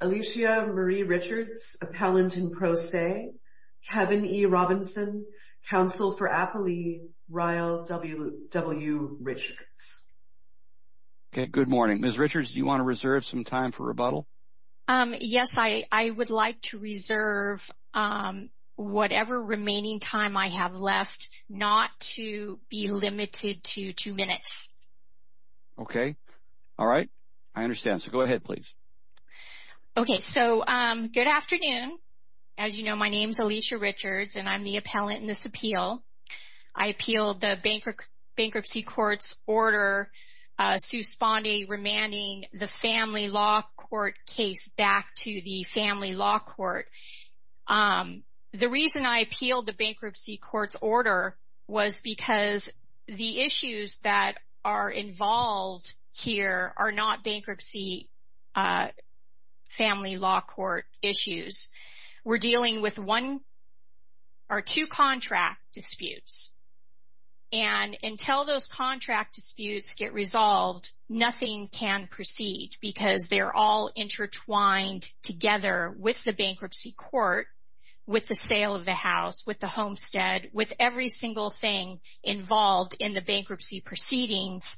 Alicia Marie Richards, Appellant in Pro Se, Kevin E. Robinson, Counsel for Appalee, Ryle W. Richards. Good morning. Ms. Richards, do you want to reserve some time for rebuttal? Yes, I would like to reserve whatever remaining time I have left, not to be limited to two minutes. Okay. All right. I understand. So go ahead, please. Okay. So good afternoon. As you know, my name is Alicia Richards, and I'm the appellant in this appeal. I appealed the Bankruptcy Courts Order, Sue Spondy remanding the Family Law Court case back to the Family Law Court. The reason I appealed the Bankruptcy Courts Order was because the issues that are involved here are not bankruptcy Family Law Court issues. We're dealing with one or two contract disputes, and until those contract disputes get resolved, nothing can proceed, because they're all intertwined together with the bankruptcy court, with the sale of the house, with the homestead, with every single thing involved in the bankruptcy proceedings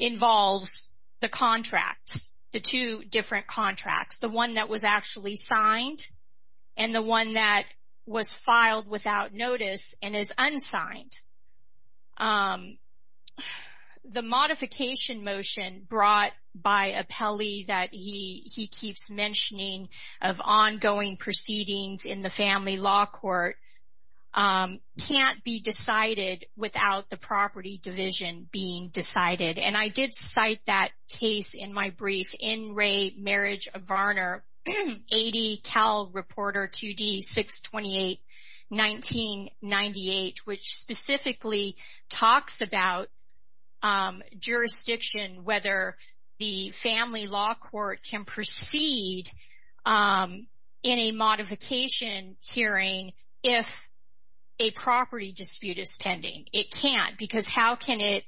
involves the contracts, the two different contracts, the one that was actually signed and the one that was filed without notice and is unsigned. The modification motion brought by appellee that he keeps mentioning of ongoing proceedings in the Family Law Court can't be decided without the property division being decided, and I did cite that case in my brief, Marriage of Varner, 80 Cal Reporter 2D 628 1998, which specifically talks about jurisdiction, whether the Family Law Court can proceed in a modification hearing if a property dispute is pending. It can't, because how can it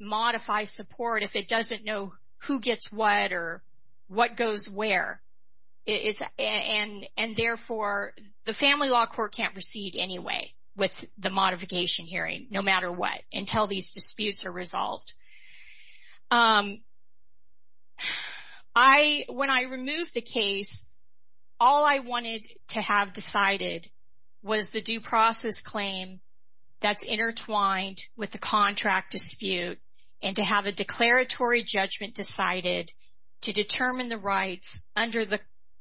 modify support if it doesn't know who gets what or what goes where? And therefore, the Family Law Court can't proceed anyway with the modification hearing, no matter what, When I removed the case, all I wanted to have decided was the due process claim that's intertwined with the contract dispute and to have a declaratory judgment decided to determine the rights under the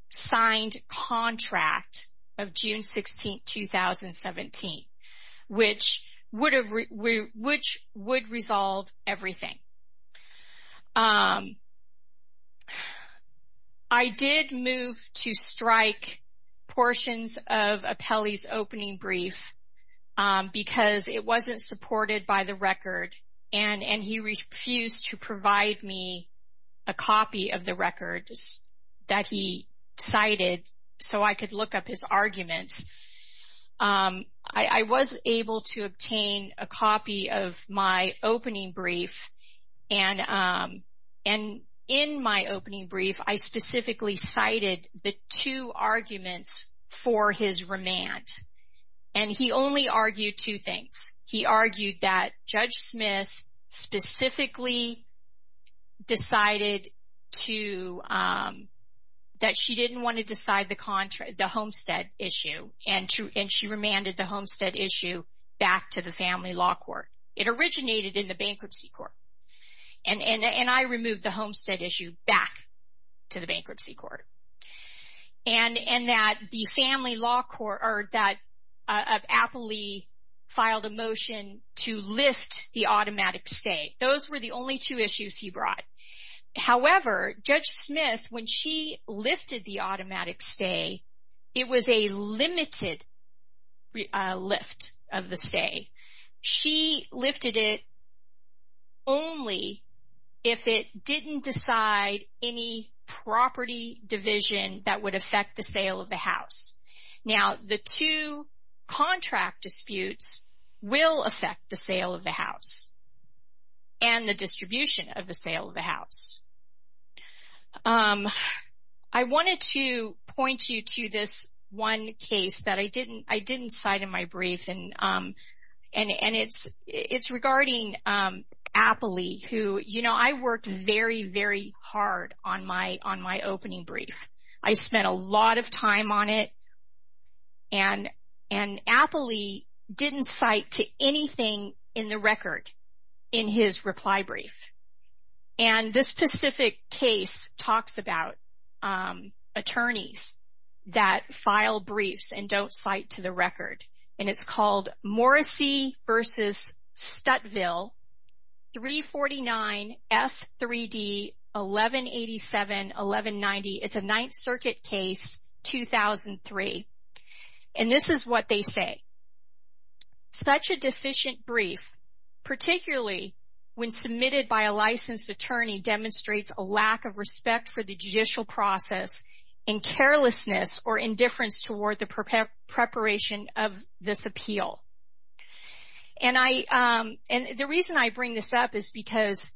signed contract of June 16, 2017, which would resolve everything. I did move to strike portions of appellee's opening brief because it wasn't supported by the record, and he refused to provide me a copy of the records that he cited so I could look up his arguments. I was able to obtain a copy of my opening brief, and in my opening brief, I specifically cited the two arguments for his remand, and he only argued two things. He argued that Judge Smith specifically decided that she didn't want to decide the homestead issue, and she remanded the homestead issue back to the Family Law Court. It originated in the Bankruptcy Court, and I removed the homestead issue back to the Bankruptcy Court, and that the Family Law Court or that appellee filed a motion to lift the automatic stay. Those were the only two issues he brought. However, Judge Smith, when she lifted the automatic stay, it was a limited lift of the stay. She lifted it only if it didn't decide any property division that would affect the sale of the house. Now, the two contract disputes will affect the sale of the house and the distribution of the sale of the house. I wanted to point you to this one case that I didn't cite in my brief, and it's regarding appellee who, you know, I worked very, very hard on my opening brief. I spent a lot of time on it, and appellee didn't cite to anything in the record in his reply brief, and this specific case talks about attorneys that file briefs and don't cite to the record, and it's called Morrissey v. Stuttville 349 F3D 1187-1190. It's a Ninth Circuit case, 2003, and this is what they say. Such a deficient brief, particularly when submitted by a licensed attorney, demonstrates a lack of respect for the judicial process and carelessness or indifference toward the preparation of this appeal. And the reason I bring this up is because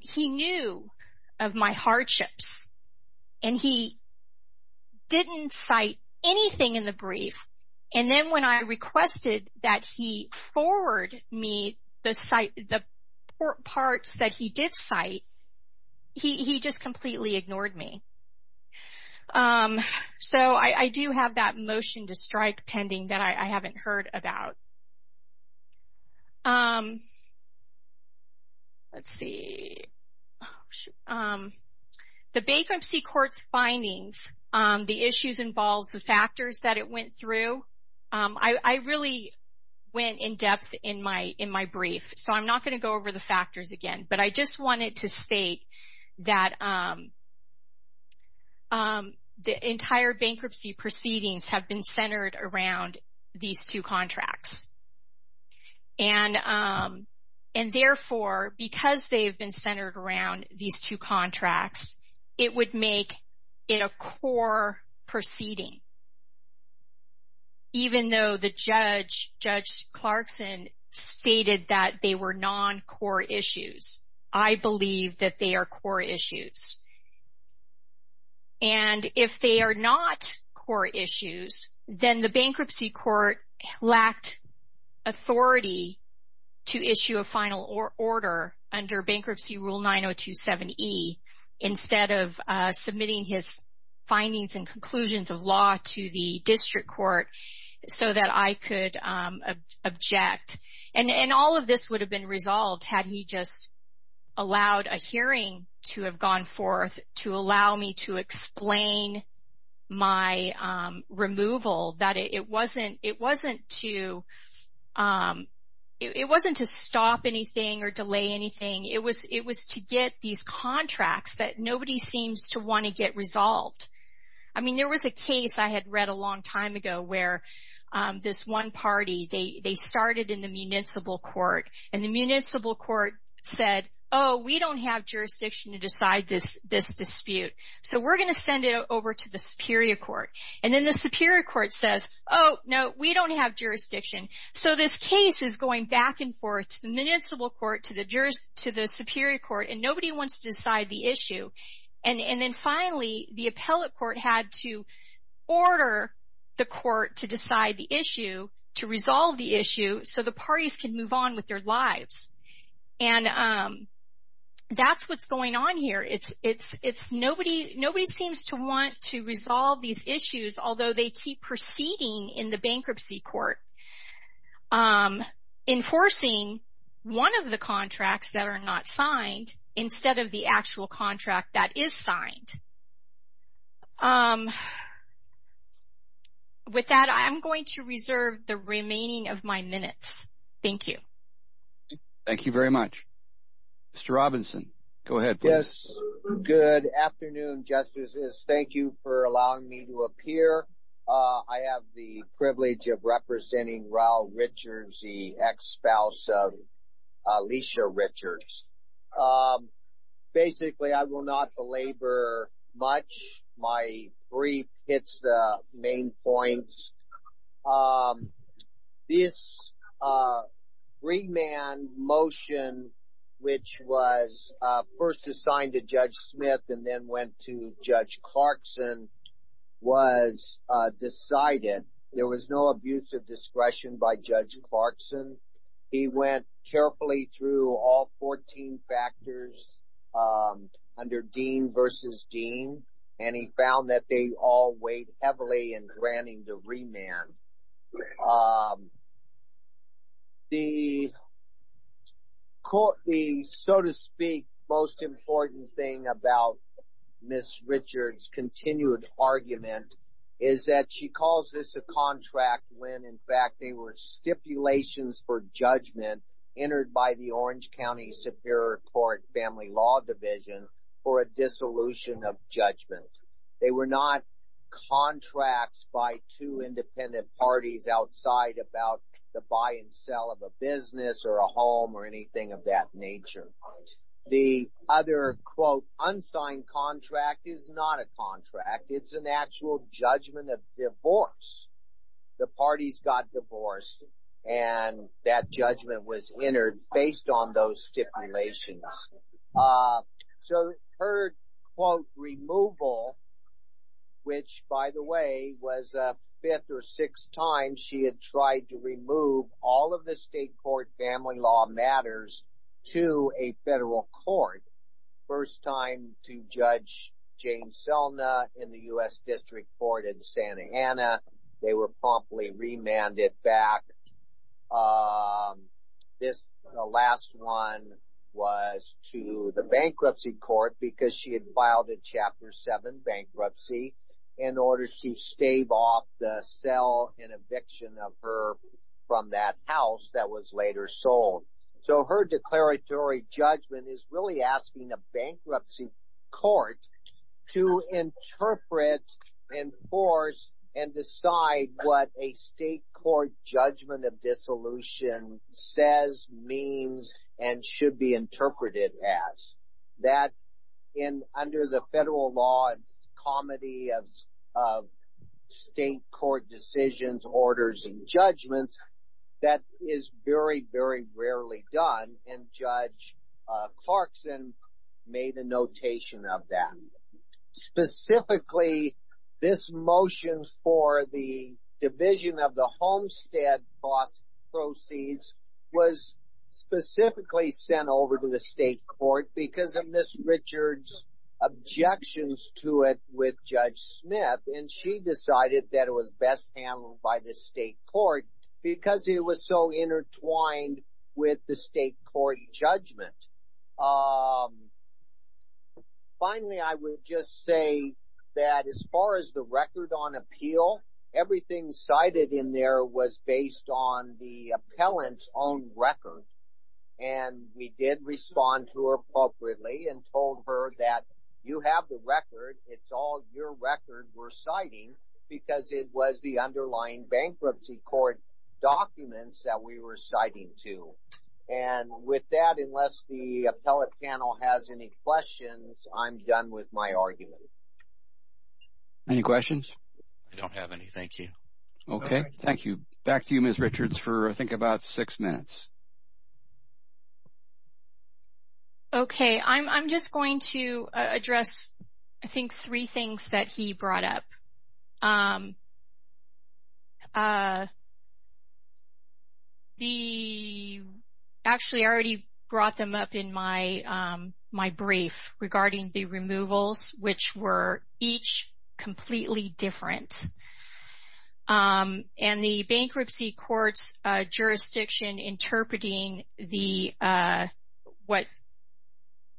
he knew of my hardships, and he didn't cite anything in the brief, and then when I requested that he forward me the parts that he did cite, he just completely ignored me. So I do have that motion to strike pending that I haven't heard about. Let's see. The bankruptcy court's findings, the issues involved, the factors that it went through, I really went in-depth in my brief, so I'm not going to go over the factors again, but I just wanted to state that the entire bankruptcy proceedings have been centered around these two contracts. And therefore, because they've been centered around these two contracts, it would make it a core proceeding, even though the judge, Judge Clarkson, stated that they were non-core issues. I believe that they are core issues. And if they are not core issues, then the bankruptcy court lacked authority to issue a final order under Bankruptcy Rule 9027E instead of submitting his findings and conclusions of law to the district court so that I could object. And all of this would have been resolved had he just allowed a hearing to have gone forth to allow me to explain my removal, that it wasn't to stop anything or delay anything. It was to get these contracts that nobody seems to want to get resolved. I mean, there was a case I had read a long time ago where this one party, they started in the municipal court, and the municipal court said, oh, we don't have jurisdiction to decide this dispute, so we're going to send it over to the superior court. And then the superior court says, oh, no, we don't have jurisdiction. So this case is going back and forth to the municipal court, to the superior court, and nobody wants to decide the issue. And then finally, the appellate court had to order the court to decide the issue, to resolve the issue, so the parties could move on with their lives. And that's what's going on here. Nobody seems to want to resolve these issues, although they keep proceeding in the bankruptcy court, enforcing one of the contracts that are not signed instead of the actual contract that is signed. With that, I'm going to reserve the remaining of my minutes. Thank you. Thank you very much. Mr. Robinson, go ahead, please. Good afternoon, Justices. Thank you for allowing me to appear. I have the privilege of representing Raul Richards, the ex-spouse of Alicia Richards. Basically, I will not belabor much. My brief hits the main points. This remand motion, which was first assigned to Judge Smith and then went to Judge Clarkson, was decided. There was no abuse of discretion by Judge Clarkson. He went carefully through all 14 factors under Dean v. Dean, and he found that they all weighed heavily in granting the remand. The, so to speak, most important thing about Ms. Richards' continued argument is that she calls this a contract when, in fact, they were stipulations for judgment entered by the Orange County Superior Court Family Law Division for a dissolution of judgment. They were not contracts by two independent parties outside about the buy and sell of a business or a home or anything of that nature. The other, quote, unsigned contract is not a contract. It's an actual judgment of divorce. The parties got divorced, and that judgment was entered based on those stipulations. So her, quote, removal, which, by the way, was a fifth or sixth time she had tried to remove all of the state court family law matters to a federal court. First time to Judge Jane Selna in the U.S. District Court in Santa Ana. They were promptly remanded back. This last one was to the bankruptcy court because she had filed a Chapter 7 bankruptcy in order to stave off the sale and eviction of her from that house that was later sold. So her declaratory judgment is really asking a bankruptcy court to interpret, enforce, and decide what a state court judgment of dissolution says, means, and should be interpreted as. And under the federal law, comedy of state court decisions, orders, and judgments, that is very, very rarely done. And Judge Clarkson made a notation of that. Specifically, this motion for the division of the homestead proceeds was specifically sent over to the state court because of Ms. Richards' objections to it with Judge Smith. And she decided that it was best handled by the state court because it was so intertwined with the state court judgment. Finally, I would just say that as far as the record on appeal, everything cited in there was based on the appellant's own record. And we did respond to her appropriately and told her that you have the record. It's all your record we're citing because it was the underlying bankruptcy court documents that we were citing to. And with that, unless the appellate panel has any questions, I'm done with my argument. Any questions? I don't have any, thank you. Okay, thank you. Back to you, Ms. Richards, for I think about six minutes. Okay, I'm just going to address, I think, three things that he brought up. Actually, I already brought them up in my brief regarding the removals, which were each completely different. And the bankruptcy court's jurisdiction interpreting what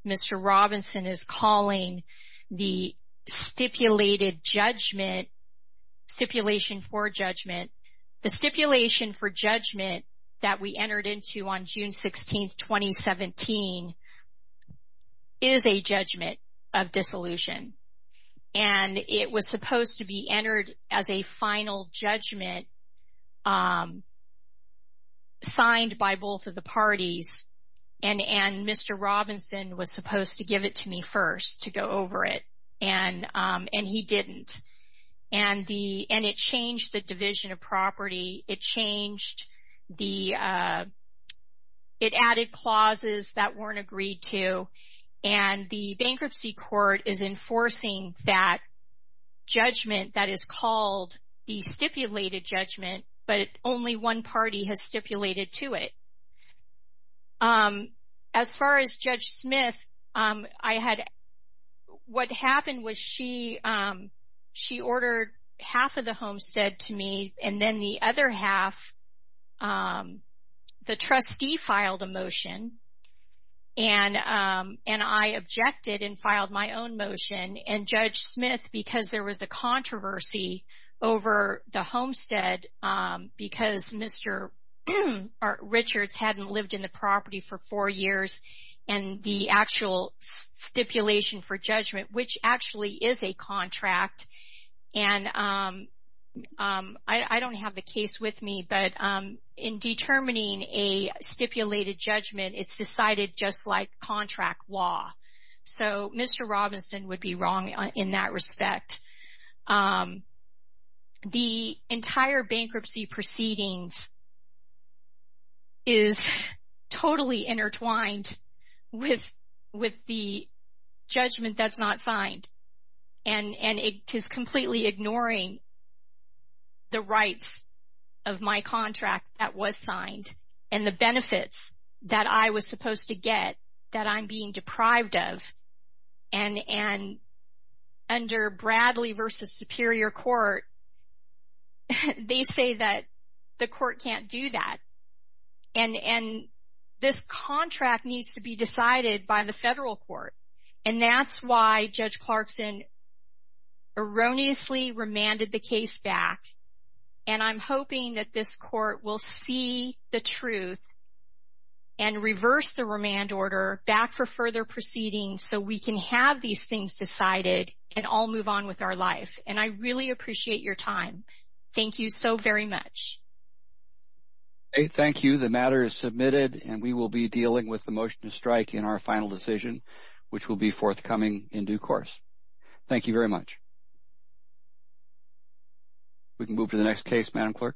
Mr. Robinson is calling the stipulated judgment, stipulation for judgment. The stipulation for judgment that we entered into on June 16, 2017 is a judgment of dissolution. And it was supposed to be entered as a final judgment signed by both of the parties. And Mr. Robinson was supposed to give it to me first to go over it. And he didn't. And it changed the division of property. It changed the, it added clauses that weren't agreed to. And the bankruptcy court is enforcing that judgment that is called the stipulated judgment, but only one party has stipulated to it. As far as Judge Smith, I had, what happened was she ordered half of the homestead to me. And then the other half, the trustee filed a motion. And I objected and filed my own motion. And Judge Smith, because there was a controversy over the homestead, because Mr. Richards hadn't lived in the property for four years, and the actual stipulation for judgment, which actually is a contract. And I don't have the case with me, but in determining a stipulated judgment, it's decided just like contract law. So Mr. Robinson would be wrong in that respect. The entire bankruptcy proceedings is totally intertwined with the judgment that's not signed. And it is completely ignoring the rights of my contract that was signed and the benefits that I was supposed to get that I'm being deprived of. And under Bradley v. Superior Court, they say that the court can't do that. And this contract needs to be decided by the federal court. And that's why Judge Clarkson erroneously remanded the case back. And I'm hoping that this court will see the truth and reverse the remand order back for further proceedings so we can have these things decided and all move on with our life. And I really appreciate your time. Thank you so very much. Thank you. The matter is submitted, and we will be dealing with the motion to strike in our final decision, which will be forthcoming in due course. Thank you very much. We can move to the next case, Madam Clerk.